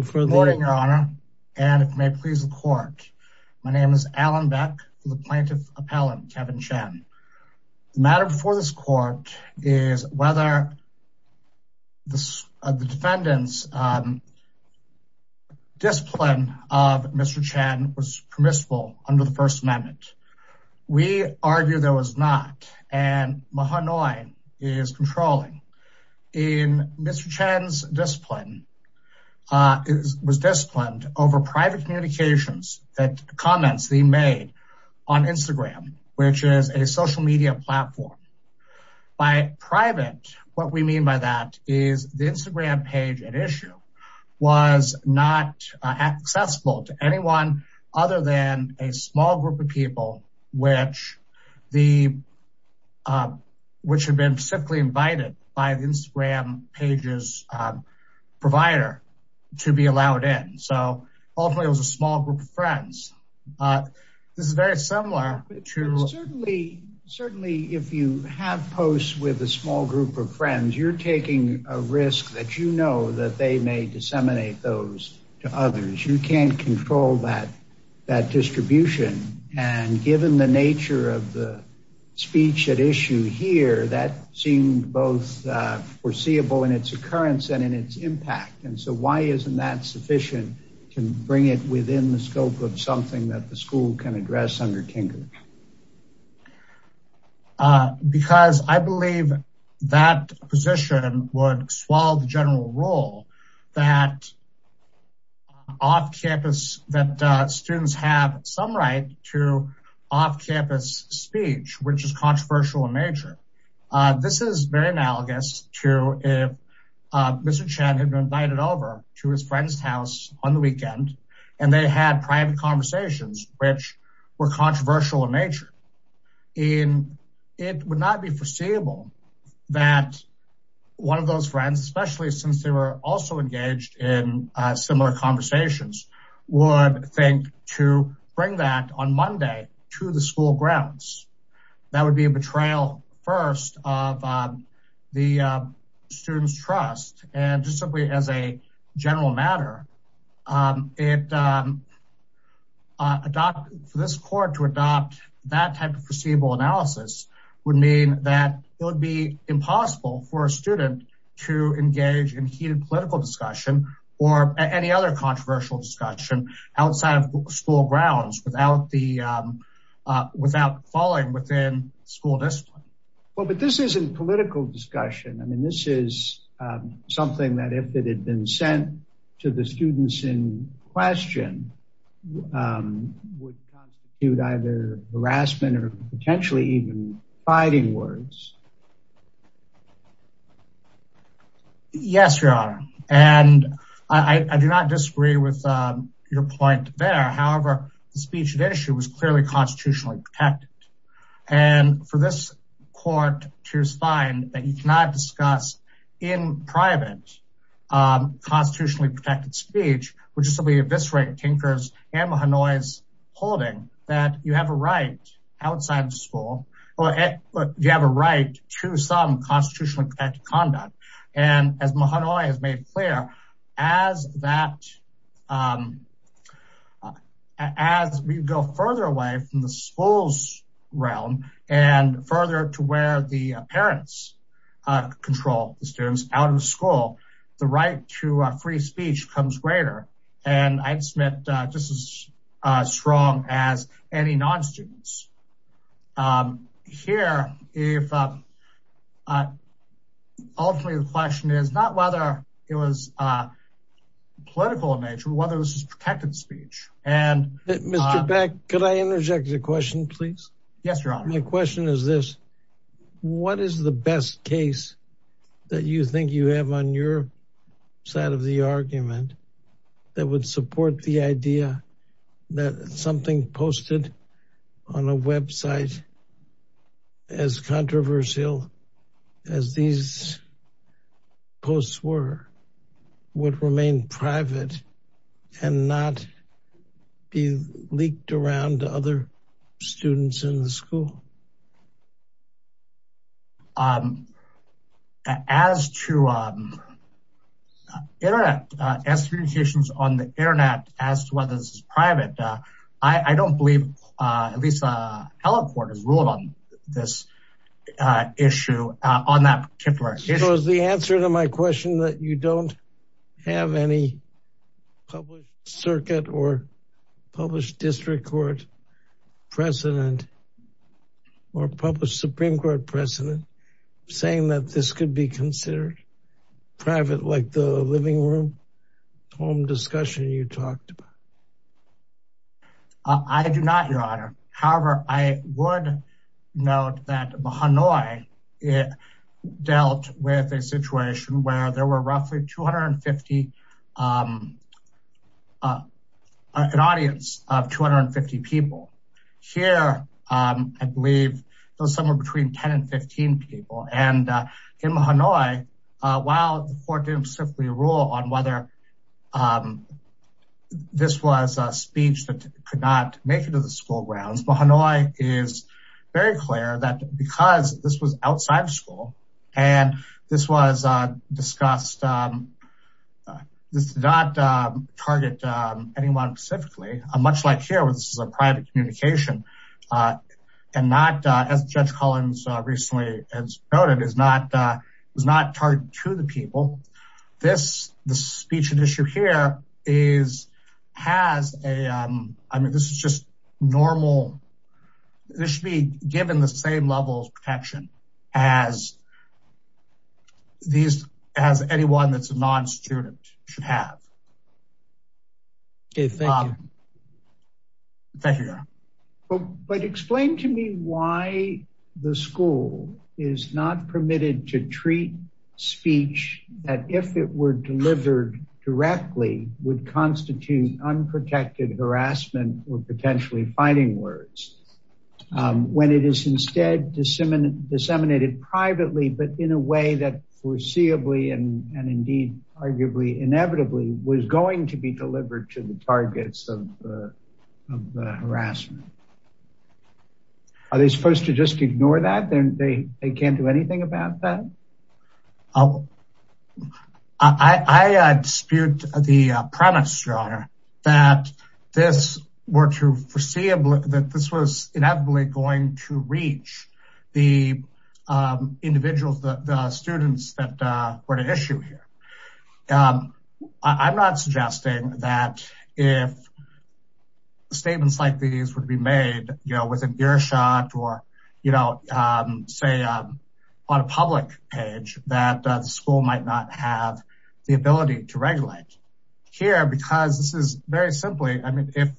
Good morning your honor and it may please the court my name is Alan Beck the plaintiff appellant Kevin Chen. The matter before this court is whether this defendant's discipline of Mr. Chen was permissible under the First Amendment. We argue there was not and Mahanoy is controlling in Mr. Chen's was disciplined over private communications that comments they made on Instagram which is a social media platform. By private what we mean by that is the Instagram page at issue was not accessible to anyone other than a small group of people which the which had been specifically invited by the Instagram pages provider to be allowed in so ultimately it was a small group of friends. This is very similar to certainly if you have posts with a small group of friends you're taking a risk that you know that they may disseminate those to others you can't control that that distribution and given the nature of the speech at issue here that seemed both foreseeable in its occurrence and in its impact and so why isn't that sufficient to bring it within the scope of something that the school can address under Tinker? Because I believe that position would swallow the general rule that off-campus that students have some right to off-campus speech which is controversial in nature. This is very analogous to if Mr. Chen had been invited over to his friend's house on the weekend and they had private conversations which were controversial in nature in it would not be foreseeable that one of those friends especially since they were also engaged in similar conversations would think to bring that on Monday to the school grounds that would be a betrayal first of the students trust and just simply as a general matter it adopted for this court to adopt that type of foreseeable analysis would mean that it would be impossible for a student to engage in heated political discussion or any other controversial discussion outside of school grounds without the without falling within school discipline. Well but this isn't political discussion I mean this is something that if it had been sent to the students in question would constitute either harassment or potentially even fighting words. Yes your point there however the speech at issue was clearly constitutionally protected and for this court to find that you cannot discuss in private constitutionally protected speech which is simply eviscerated tinkers and Mahanoy's holding that you have a right outside of school or you have a right to some as we go further away from the schools realm and further to where the parents control the students out of the school the right to free speech comes greater and I'd submit just as strong as any non-students. Here if ultimately the whether this is protected speech and. Mr. Beck could I interject a question please? Yes your honor. My question is this what is the best case that you think you have on your side of the argument that would support the idea that something posted on a website as controversial as these posts were would remain private and not be leaked around to other students in the school? As to internet as communications on the internet as to whether this is private I don't believe at least a element court has ruled on this issue on that It was the answer to my question that you don't have any public circuit or published district court precedent or published Supreme Court precedent saying that this could be considered private like the living room home discussion you dealt with a situation where there were roughly 250 an audience of 250 people here I believe somewhere between 10 and 15 people and in Hanoi while the court didn't simply rule on whether this was a speech that could not make it to the school and this was discussed this did not target anyone specifically a much like here where this is a private communication and not as Judge Collins recently has noted is not was not targeted to the people this the speech and issue here is has a I mean this is just normal this should be given the same treatment as these as anyone that's a non-student should have. Okay, thank you. Thank you. But explain to me why the school is not permitted to treat speech that if it were delivered directly would constitute unprotected harassment or potentially fighting words when it is instead disseminated disseminated privately but in a way that foreseeably and indeed arguably inevitably was going to be delivered to the targets of harassment. Are they supposed to just ignore that then they can't do anything about that? I dispute the premise your honor that this were to foreseeable that this was inevitably going to reach the individuals that the students that were to issue here. I'm not suggesting that if statements like these would be made, you know with an earshot or you know, say on a public page that the school might not have the ability to regulate here because this is very simply. I mean if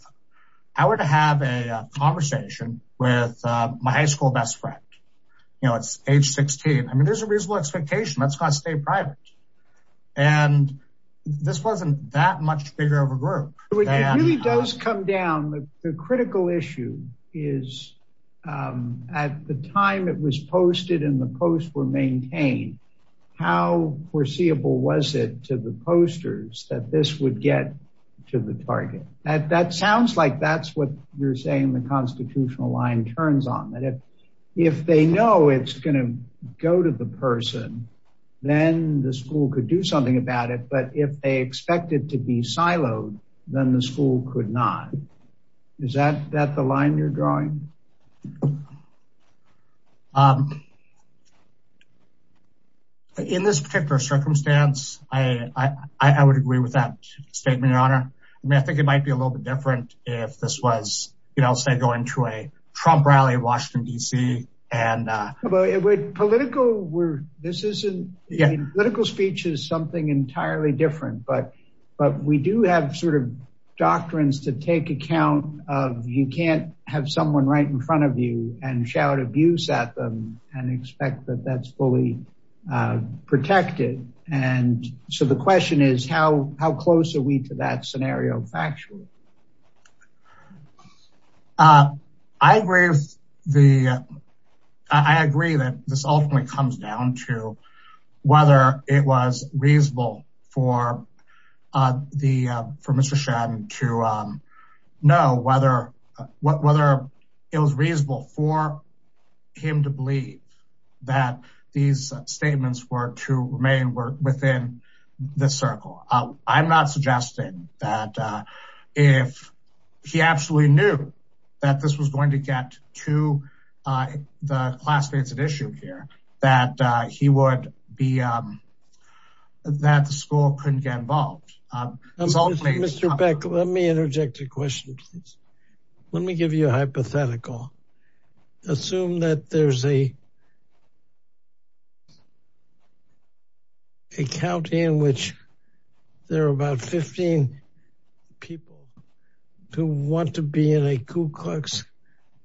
I were to have a conversation with my high school best friend, you know, it's age 16. I mean, there's a reasonable expectation that's going to stay private and this wasn't that much bigger of a group. It really does come down the critical issue is at the time it was posted in the post were maintained. How foreseeable was it to the posters that this would get to the target at that sounds like that's what you're saying. The constitutional line turns on that if they know it's going to go to the person then the school could do something about it. But if they expect it to be siloed then the school could not is that that the line you're drawing? In this particular circumstance, I would agree with that statement, Your Honor. I mean, I think it might be a little bit different if this was, you know, say going to a Trump rally in Washington, D.C. Political speech is something entirely different. But we do have sort of doctrines to take account of. You can't have someone right in front of you and shout abuse at them and expect that that's fully protected. And so the question is how how close are we to that scenario? Actually, I agree with the I agree that this ultimately comes down to whether it was reasonable for the permission to know whether whether it was reasonable for him to believe that these statements were to remain within the circle. I'm not suggesting that if he absolutely knew that this was going to get to the class-faceted issue here, that he would be that the school couldn't get involved. Mr. Beck, let me interject a question. Let me give you a hypothetical. Assume that there's a. A county in which there are about 15 people who want to be in a Ku Klux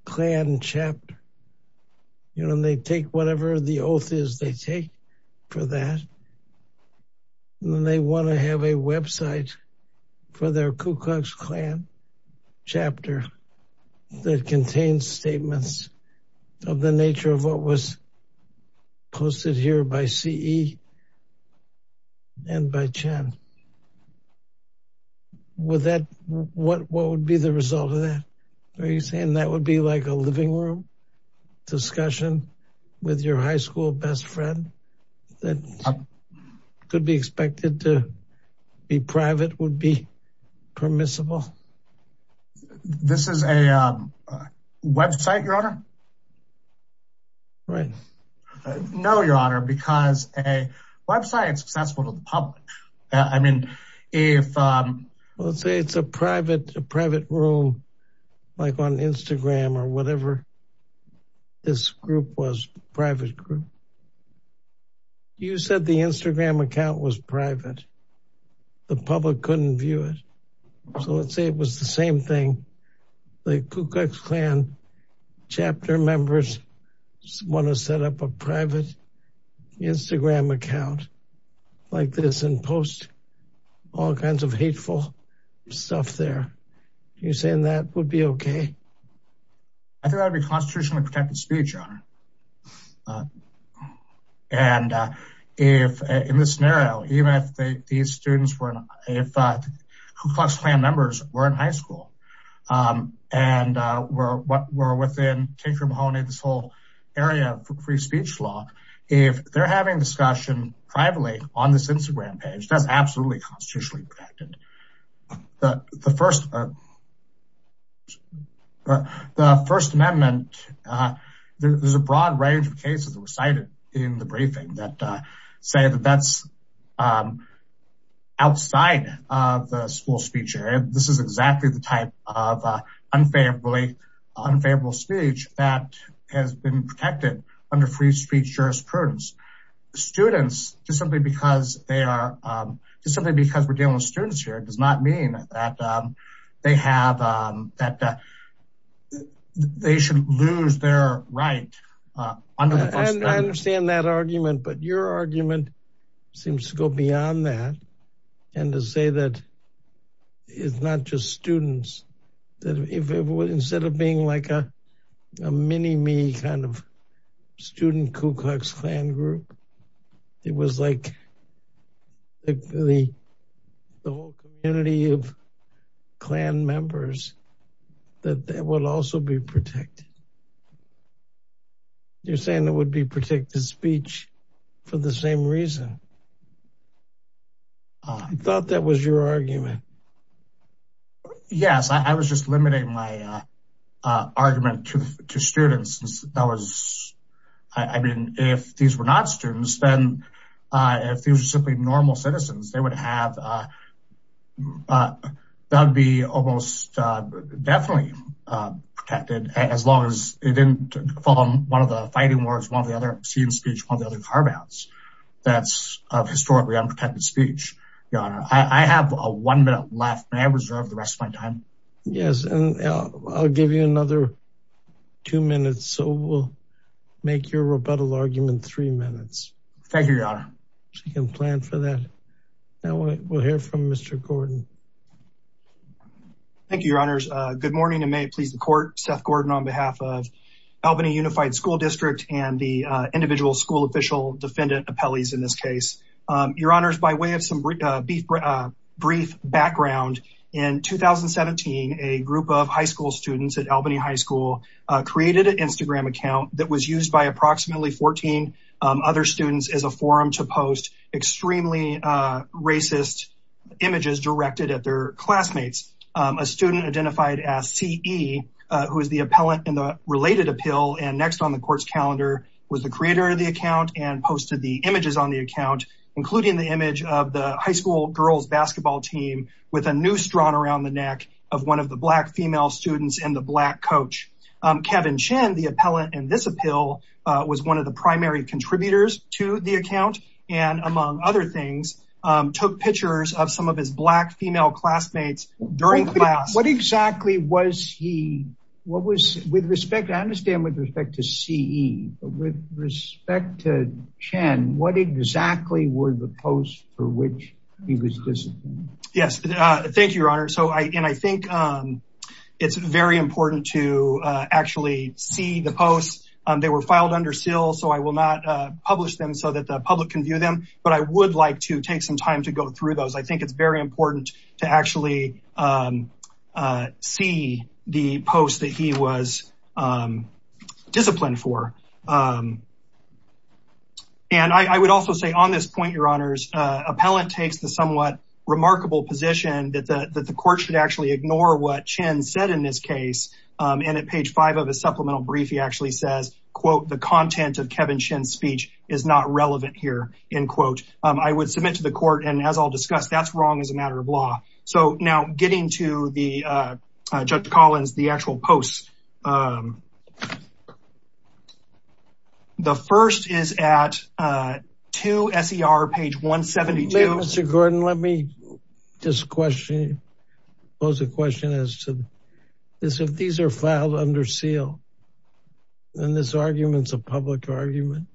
Klan chapter. You know, they take whatever the oath is they take for that. They want to have a website for their Ku Klux Klan chapter that contains statements of the nature of what was posted here by C.E. and by Chen. With that, what what would be the result of that? Are you saying that would be like a living room discussion with your high school best friend that could be expected to be private would be permissible? This is a website, your honor. Right. No, your honor, because a website is accessible to the public. I mean, if let's say it's a private private room, like on Instagram or whatever. This group was private group. You said the Instagram account was private. The public couldn't view it. So let's say it was the same thing. The Ku Klux Klan chapter members want to set up a private Instagram account like this and post all kinds of hateful stuff there. You saying that would be OK? I think that would be constitutionally protected speech, your honor. And if in this scenario, even if these students were if Ku Klux Klan members were in high school and were within this whole area of free speech law, if they're having discussion privately on this Instagram page, that's absolutely constitutionally protected. The First Amendment, there's a broad range of cases that were cited in the briefing that say that that's outside of the school speech area. This is exactly the type of unfavorably unfavorable speech that has been protected under free speech jurisprudence. Students, just simply because we're dealing with students here, does not mean that they should lose their right under the First Amendment. I understand that argument, but your argument seems to go beyond that and to say that it's not just students that instead of being like a mini me kind of student Ku Klux Klan group, it was like the whole community of Klan members that would also be protected. You're saying that would be protected speech for the same reason. I thought that was your argument. Yes, I was just limiting my argument to students. I mean, if these were not students, then if these were simply normal citizens, they would have, that would be almost definitely protected as long as it didn't follow one of the fighting words, one of the other obscene speech, one of the other carve outs that's historically unprotected speech. I have a one minute left. May I reserve the rest of my time? Yes. And I'll give you another two minutes. So we'll make your rebuttal argument three minutes. Thank you, Your Honor. She can plan for that. Now we'll hear from Mr. Gordon. Thank you, Your Honors. Good morning and may it please the court. Seth Gordon on behalf of Albany Unified School District and the individual school official defendant appellees in this case. Your Honors, by way of some brief background, in 2017, a group of high school students at Albany High School created an Instagram account that was used by approximately 14 other students as a forum to post extremely racist images directed at their classmates. A student identified as CE, who is the appellant in the related appeal and next on the court's calendar was the creator of the account and posted the images on the account, including the image of the high school girls basketball team with a noose drawn around the neck of one of the black female students and the black coach. Kevin Chen, the appellant in this appeal, was one of the primary contributors to the account and among other things, took pictures of some of his black female classmates during class. What exactly was he, what was, with respect, I understand with respect to CE, but with respect to Chen, what exactly were the posts for which he was disciplined? Yes. Thank you, Your Honor. So I, and I think it's very important to actually see the posts. They were filed under seal, so I will not publish them so that the public can view them, but I would like to take some time to go through those. I think it's very important to actually see the posts that he was disciplined for. And I would also say on this point, Your Honors, appellant takes the somewhat remarkable position that the court should actually ignore what Chen said in this case. And at page five of a supplemental brief, he actually says, quote, the content of Kevin Chen's speech is not relevant here, end quote. I would submit to the court and as I'll discuss, that's wrong as a matter of law. So now getting to the, Judge Collins, the actual posts. The first is at 2 S.E.R., page 172. Mr. Gordon, let me just question, pose a question as to this. If these are filed under seal, then this argument is a public argument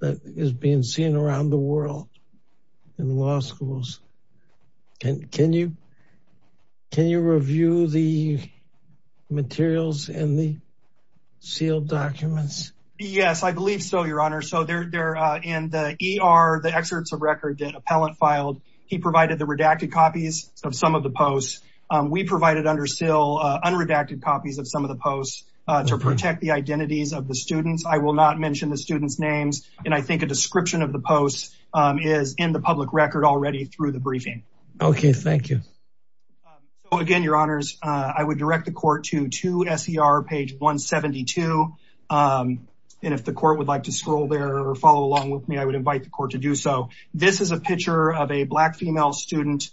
that is being seen around the world in law schools. Can you review the materials in the sealed documents? Yes, I believe so, Your Honor. So they're in the E.R., the excerpts of record that appellant filed. He provided the redacted copies of some of the posts. We provided under seal unredacted copies of some of the posts to protect the identities of the students. I will not mention the students' names. And I think a description of the posts is in the public record already through the briefing. OK, thank you. Again, Your Honors, I would direct the court to 2 S.E.R., page 172. And if the court would like to scroll there or follow along with me, I would invite the court to do so. This is a picture of a black female student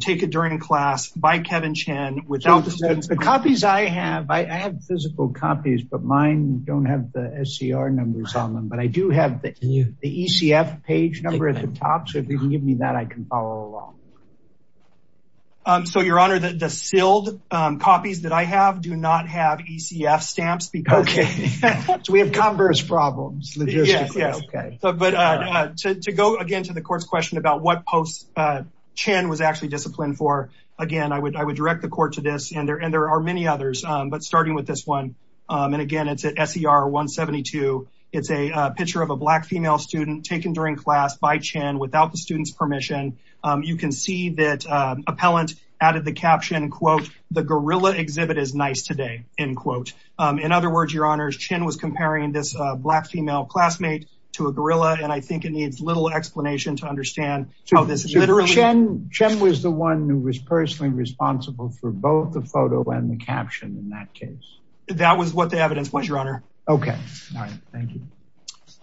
taken during class by Kevin Chen. The copies I have, I have physical copies, but mine don't have the S.E.R. numbers on them. But I do have the E.C.F. page number at the top. So if you can give me that, I can follow along. So, Your Honor, the sealed copies that I have do not have E.C.F. stamps because we have converse problems. But to go again to the court's question about what posts Chen was actually disciplined for. Again, I would I would direct the court to this. And there are many others. But starting with this one. And again, it's at S.E.R. 172. It's a picture of a black female student taken during class by Chen without the student's permission. You can see that appellant added the caption, quote, The gorilla exhibit is nice today, end quote. In other words, Your Honors, Chen was comparing this black female classmate to a gorilla. And I think it needs little explanation to understand how this is literally. Chen was the one who was personally responsible for both the photo and the caption in that case. That was what the evidence was, Your Honor. OK, thank you.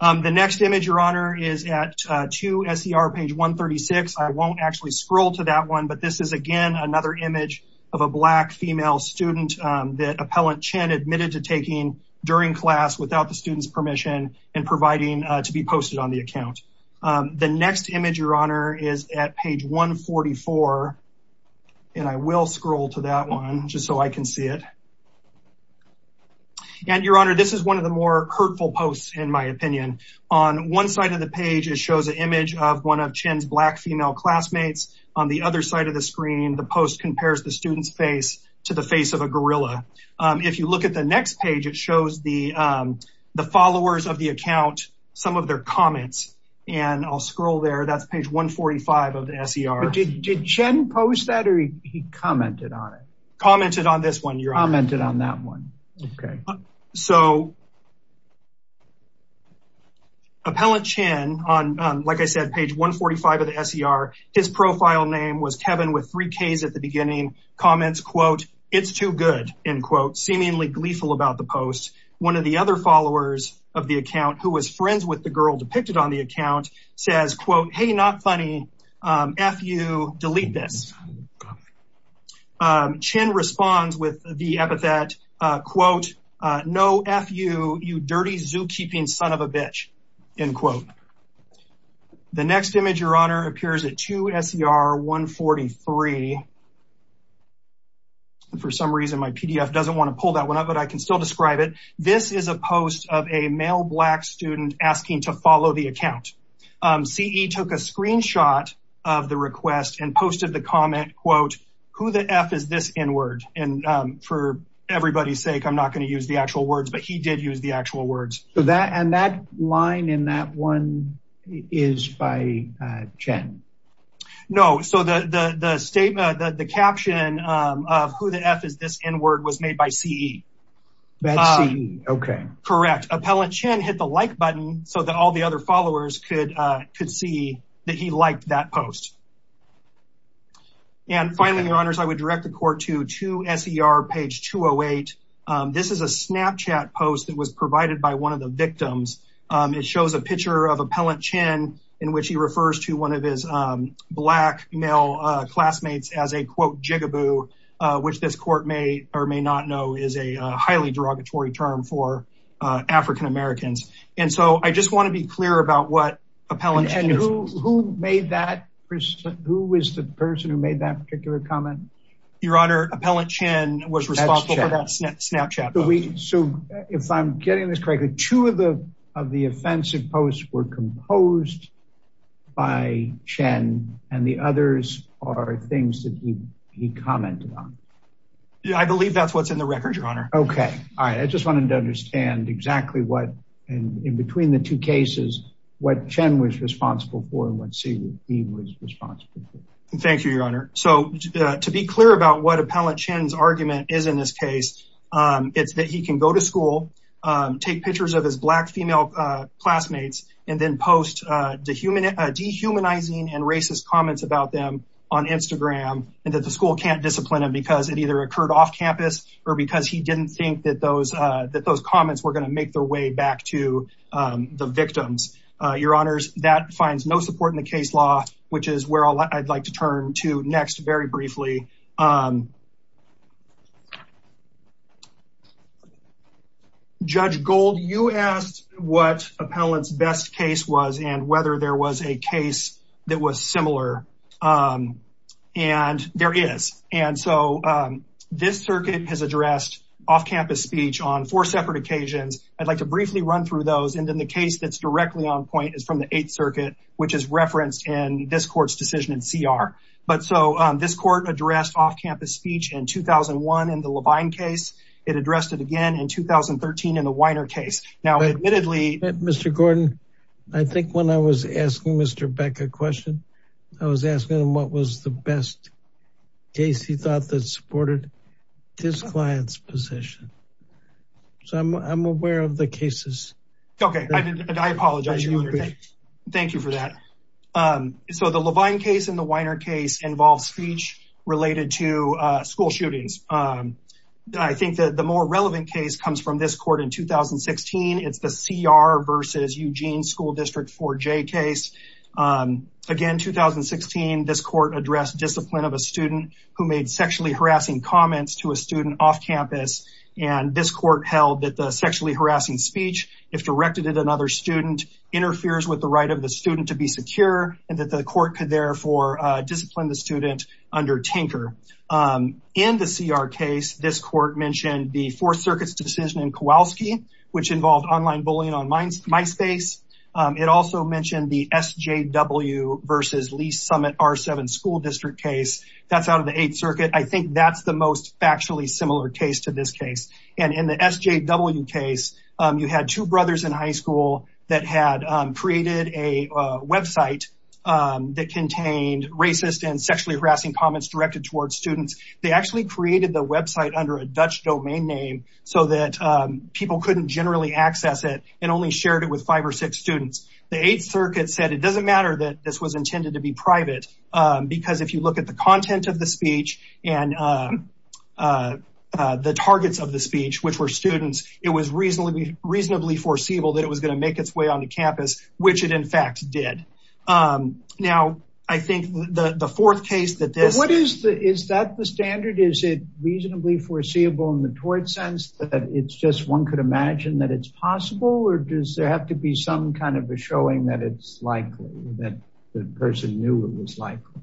The next image, Your Honor, is at 2 S.E.R. page 136. I won't actually scroll to that one. But this is, again, another image of a black female student that appellant Chen admitted to taking during class without the student's permission and providing to be posted on the account. The next image, Your Honor, is at page 144. And I will scroll to that one just so I can see it. And, Your Honor, this is one of the more hurtful posts, in my opinion. On one side of the page, it shows an image of one of Chen's black female classmates. On the other side of the screen, the post compares the student's face to the face of a gorilla. If you look at the next page, it shows the followers of the account, some of their comments. And I'll scroll there. That's page 145 of the S.E.R. But did Chen post that or he commented on it? Commented on this one, Your Honor. Commented on that one. OK. So, appellant Chen, on, like I said, page 145 of the S.E.R., his profile name was Kevin with three Ks at the beginning. Comments, quote, it's too good, end quote, seemingly gleeful about the post. One of the other followers of the account, who was friends with the girl depicted on the account, says, quote, hey, not funny, F you, delete this. Chen responds with the epithet, quote, no F you, you dirty zookeeping son of a bitch, end quote. The next image, Your Honor, appears at 2 S.E.R. 143. For some reason, my PDF doesn't want to pull that one up, but I can still describe it. This is a post of a male black student asking to follow the account. C.E. took a screenshot of the request and posted the comment, quote, who the F is this N word? And for everybody's sake, I'm not going to use the actual words, but he did use the actual words. And that line in that one is by Chen. No. So the statement that the caption of who the F is, this N word was made by C.E. OK, correct. Appellant Chen hit the like button so that all the other followers could could see that he liked that post. And finally, Your Honors, I would direct the court to 2 S.E.R. page 208. This is a Snapchat post that was provided by one of the victims. It shows a picture of Appellant Chen in which he refers to one of his black male classmates as a, quote, gigaboo, which this court may or may not know is a highly derogatory term for African-Americans. And so I just want to be clear about what Appellant Chen is. And who made that? Who is the person who made that particular comment? Your Honor, Appellant Chen was responsible for that Snapchat post. So if I'm getting this correctly, two of the of the offensive posts were composed by Chen and the others are things that he commented on. Yeah, I believe that's what's in the record, Your Honor. OK. All right. I just wanted to understand exactly what and in between the two cases, what Chen was responsible for and what C.E.R. was responsible for. Thank you, Your Honor. So to be clear about what Appellant Chen's argument is in this case, it's that he can go to school, take pictures of his black female classmates and then post dehumanizing and racist comments about them on Instagram and that the school can't discipline him because it either occurred off campus or because he didn't think that those that those comments were going to make their way back to the victims. Your Honors, that finds no support in the case law, which is where I'd like to turn to next. Very briefly. Judge Gold, you asked what Appellant's best case was and whether there was a case that was similar. And there is. And so this circuit has addressed off campus speech on four separate occasions. I'd like to briefly run through those. And then the case that's directly on point is from the Eighth Circuit, which is referenced in this court's decision in C.R. But so this court addressed off campus speech in 2001 in the Levine case. It addressed it again in 2013 in the Weiner case. Now, admittedly. Mr. Gordon, I think when I was asking Mr. Beck a question, I was asking him what was the best case he thought that supported his client's position. So I'm aware of the cases. OK, I apologize. Thank you for that. So the Levine case in the Weiner case involves speech related to school shootings. I think that the more relevant case comes from this court in 2016. It's the C.R. versus Eugene School District 4J case. Again, 2016, this court addressed discipline of a student who made sexually harassing comments to a student off campus. And this court held that the sexually harassing speech, if directed at another student, interferes with the right of the student to be secure and that the court could therefore discipline the student under Tinker. In the C.R. case, this court mentioned the Fourth Circuit's decision in Kowalski, which involved online bullying on MySpace. It also mentioned the S.J.W. versus Lee Summit R-7 school district case that's out of the Eighth Circuit. I think that's the most factually similar case to this case. And in the S.J.W. case, you had two brothers in high school that had created a Web site that contained racist and sexually harassing comments directed towards students. They actually created the Web site under a Dutch domain name so that people couldn't generally access it and only shared it with five or six students. The Eighth Circuit said it doesn't matter that this was intended to be private because if you look at the content of the speech and the targets of the speech, which were students, it was reasonably foreseeable that it was going to make its way onto campus, which it in fact did. Now, I think the fourth case that this... Is that the standard? Is it reasonably foreseeable in the tort sense that it's just one could imagine that it's possible or does there have to be some kind of a showing that it's likely, that the person knew it was likely?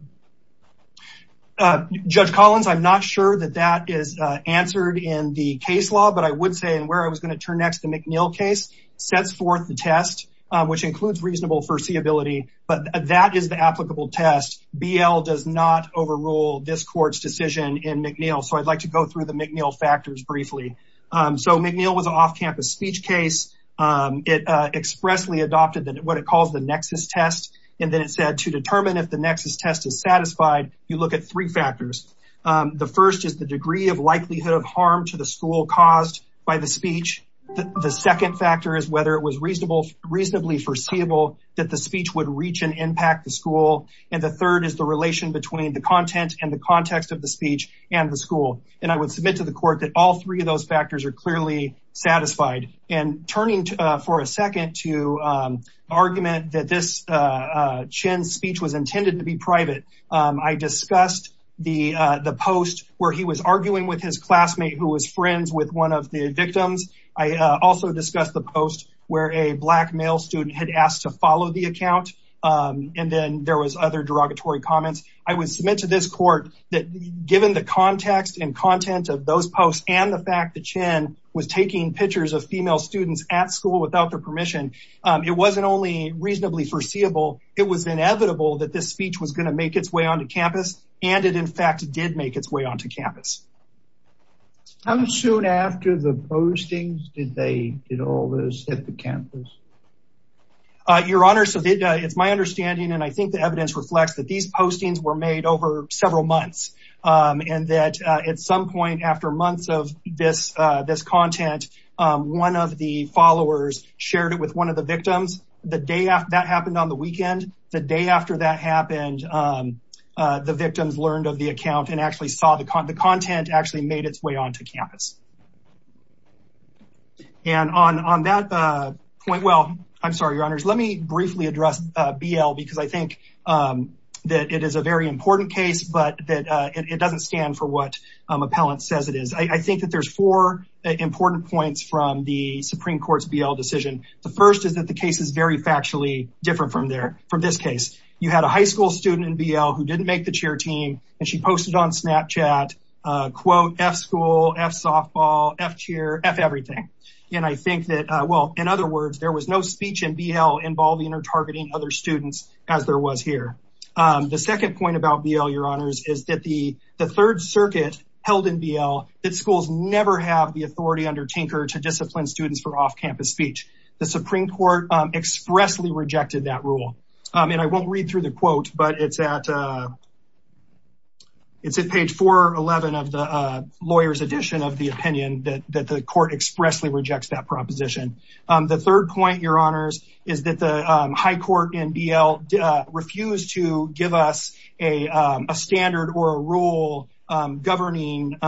Judge Collins, I'm not sure that that is answered in the case law, but I would say in where I was going to turn next, the McNeill case sets forth the test, which includes reasonable foreseeability. But that is the applicable test. BL does not overrule this court's decision in McNeill. So I'd like to go through the McNeill factors briefly. So McNeill was an off-campus speech case. It expressly adopted what it calls the nexus test. And then it said to determine if the nexus test is satisfied, you look at three factors. The first is the degree of likelihood of harm to the school caused by the speech. The second factor is whether it was reasonably foreseeable that the speech would reach and impact the school. And the third is the relation between the content and the context of the speech and the school. And I would submit to the court that all three of those factors are clearly satisfied. And turning for a second to argument that this Chin's speech was intended to be private. I discussed the post where he was arguing with his classmate who was friends with one of the victims. I also discussed the post where a black male student had asked to follow the account. And then there was other derogatory comments. I would submit to this court that given the context and content of those posts and the fact that Chin was taking pictures of female students at school without their permission, it wasn't only reasonably foreseeable, it was inevitable that this speech was going to make its way onto campus. And it, in fact, did make its way onto campus. How soon after the postings did they get all this at the campus? Your Honor, it's my understanding, and I think the evidence reflects that these postings were made over several months. And that at some point after months of this content, one of the followers shared it with one of the victims. That happened on the weekend. The day after that happened, the victims learned of the account and actually saw the content actually made its way onto campus. And on that point, well, I'm sorry, Your Honor. Let me briefly address BL because I think that it is a very important case, but it doesn't stand for what appellant says it is. I think that there's four important points from the Supreme Court's BL decision. The first is that the case is very factually different from this case. You had a high school student in BL who didn't make the cheer team, and she posted on Snapchat, quote, F school, F softball, F cheer, F everything. And I think that, well, in other words, there was no speech in BL involving or targeting other students as there was here. The second point about BL, Your Honors, is that the Third Circuit held in BL that schools never have the authority under Tinker to discipline students for off-campus speech. The Supreme Court expressly rejected that rule. And I won't read through the quote, but it's at page 411 of the lawyer's edition of the opinion that the court expressly rejects that proposition. The third point, Your Honors, is that the high court in BL refused to give us a standard or a rule governing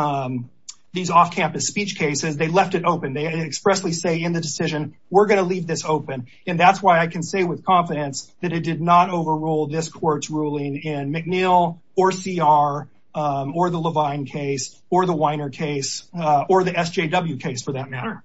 these off-campus speech cases. They left it open. They expressly say in the decision, we're going to leave this open. And that's why I can say with confidence that it did not overrule this court's ruling in McNeil or CR or the Levine case or the Weiner case or the SJW case, for that matter.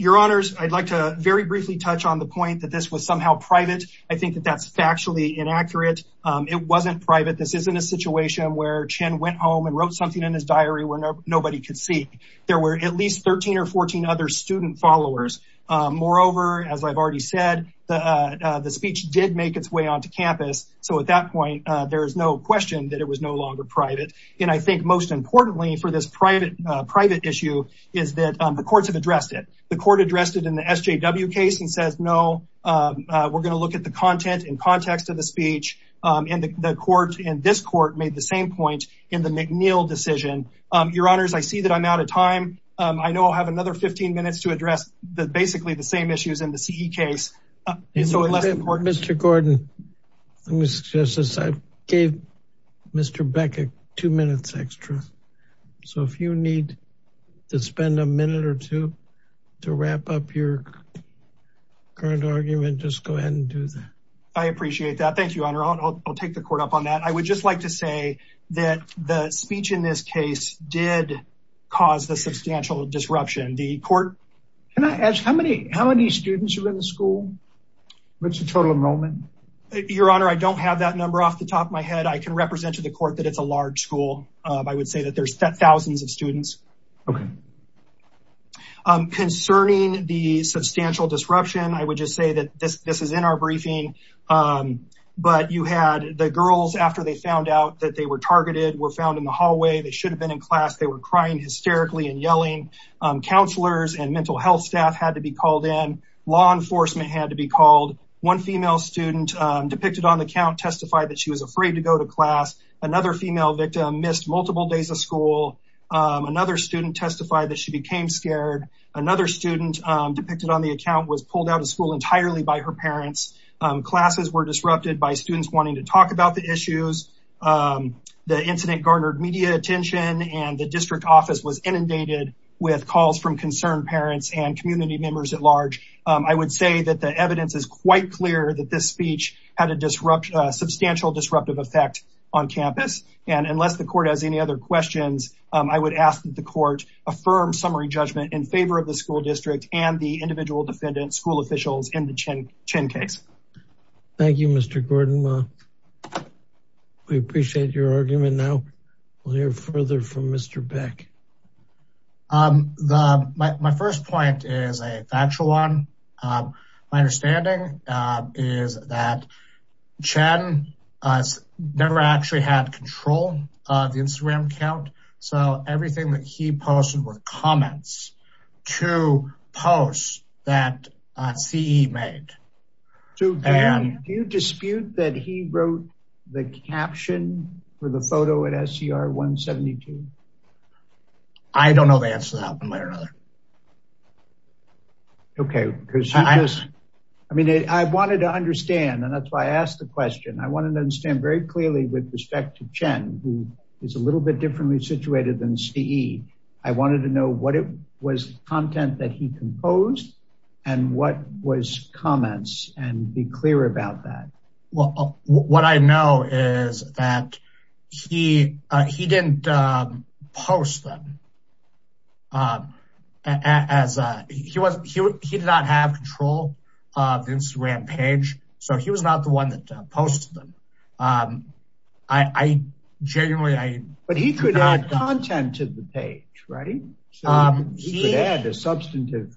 Your Honors, I'd like to very briefly touch on the point that this was somehow private. I think that that's factually inaccurate. It wasn't private. This isn't a situation where Chen went home and wrote something in his diary where nobody could see. There were at least 13 or 14 other student followers. Moreover, as I've already said, the speech did make its way onto campus. So at that point, there is no question that it was no longer private. And I think most importantly for this private issue is that the courts have addressed it. The court addressed it in the SJW case and says, no, we're going to look at the content and context of the speech. And the court and this court made the same point in the McNeil decision. Your Honors, I see that I'm out of time. I know I'll have another 15 minutes to address basically the same issues in the CE case. Mr. Gordon, let me suggest this. I gave Mr. Beck a two minutes extra. So if you need to spend a minute or two to wrap up your current argument, just go ahead and do that. I appreciate that. Thank you, Honor. I'll take the court up on that. I would just like to say that the speech in this case did cause the substantial disruption. Can I ask how many students are in the school? What's the total enrollment? Your Honor, I don't have that number off the top of my head. I can represent to the court that it's a large school. I would say that there's thousands of students. Concerning the substantial disruption, I would just say that this is in our briefing. The girls, after they found out that they were targeted, were found in the hallway. They should have been in class. They were crying hysterically and yelling. Counselors and mental health staff had to be called in. Law enforcement had to be called. One female student depicted on the account testified that she was afraid to go to class. Another female victim missed multiple days of school. Another student testified that she became scared. Another student depicted on the account was pulled out of school entirely by her parents. Classes were disrupted by students wanting to talk about the issues. The incident garnered media attention, and the district office was inundated with calls from concerned parents and community members at large. I would say that the evidence is quite clear that this speech had a substantial disruptive effect on campus. Unless the court has any other questions, I would ask that the court affirm summary judgment in favor of the school district and the individual defendant school officials in the Chen case. Thank you, Mr. Gordon. We appreciate your argument. Now, we'll hear further from Mr. Beck. My first point is a factual one. My understanding is that Chen never actually had control of the Instagram account. So everything that he posted were comments to posts that CE made. Do you dispute that he wrote the caption for the photo at SCR 172? I don't know the answer to that one way or another. Okay, because I mean, I wanted to understand and that's why I asked the question. I wanted to understand very clearly with respect to Chen, who is a little bit differently situated than CE. I wanted to know what it was content that he composed and what was comments and be clear about that. What I know is that he didn't post them. He did not have control of the Instagram page. So he was not the one that posted them. But he could add content to the page, right? He could add a substantive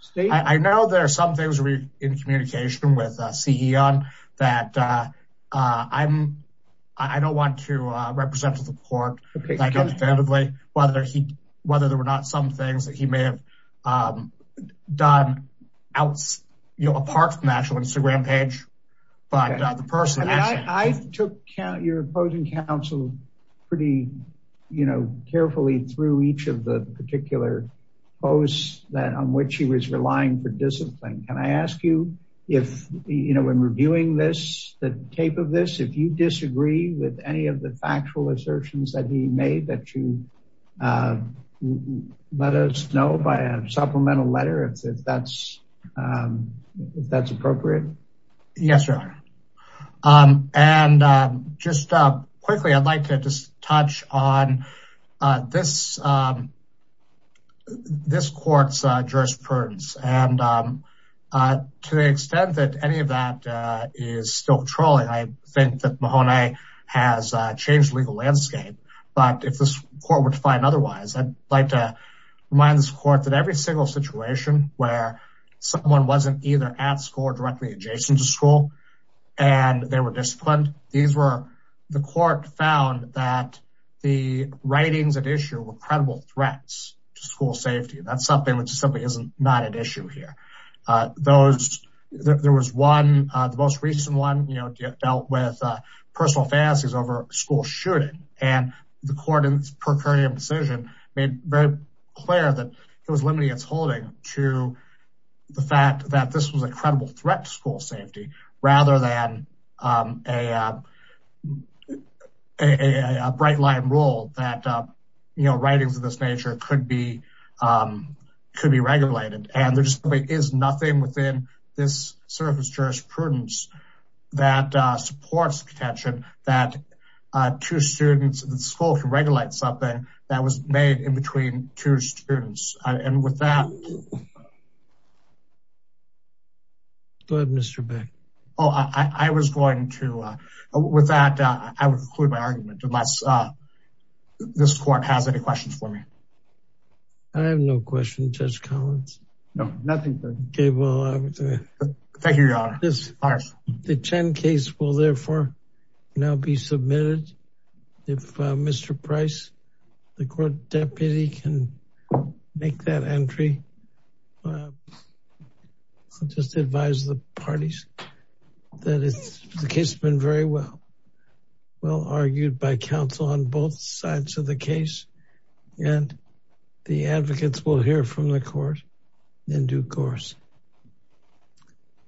statement. I know there are some things in communication with CE that I don't want to represent to the court. Whether there were not some things that he may have done apart from the actual Instagram page. I took your opposing counsel pretty carefully through each of the particular posts that on which he was relying for discipline. Can I ask you if you know when reviewing this, the tape of this, if you disagree with any of the factual assertions that he made that you let us know by a supplemental letter, if that's appropriate? Yes, Your Honor. Just quickly, I'd like to touch on this court's jurisprudence. To the extent that any of that is still controlling, I think that Mahoney has changed the legal landscape. But if this court were to find otherwise, I'd like to remind this court that every single situation where someone wasn't either at school or directly adjacent to school and they were disciplined. The court found that the writings at issue were credible threats to school safety. That's something which simply is not an issue here. There was one, the most recent one, dealt with personal fantasies over school shooting. And the court in its procuratorial decision made very clear that it was limiting its holding to the fact that this was a credible threat to school safety rather than a bright line rule that writings of this nature could be regulated. And there simply is nothing within this surface jurisprudence that supports the contention that two students at school can regulate something that was made in between two students. And with that... Go ahead, Mr. Beck. Oh, I was going to... With that, I will conclude my argument unless this court has any questions for me. I have no question, Judge Collins. No, nothing. Okay, well... Thank you, Your Honor. The Chen case will therefore now be submitted. If Mr. Price, the court deputy can make that entry. I'll just advise the parties that the case has been very well, well argued by counsel on both sides of the case. And the advocates will hear from the court in due course.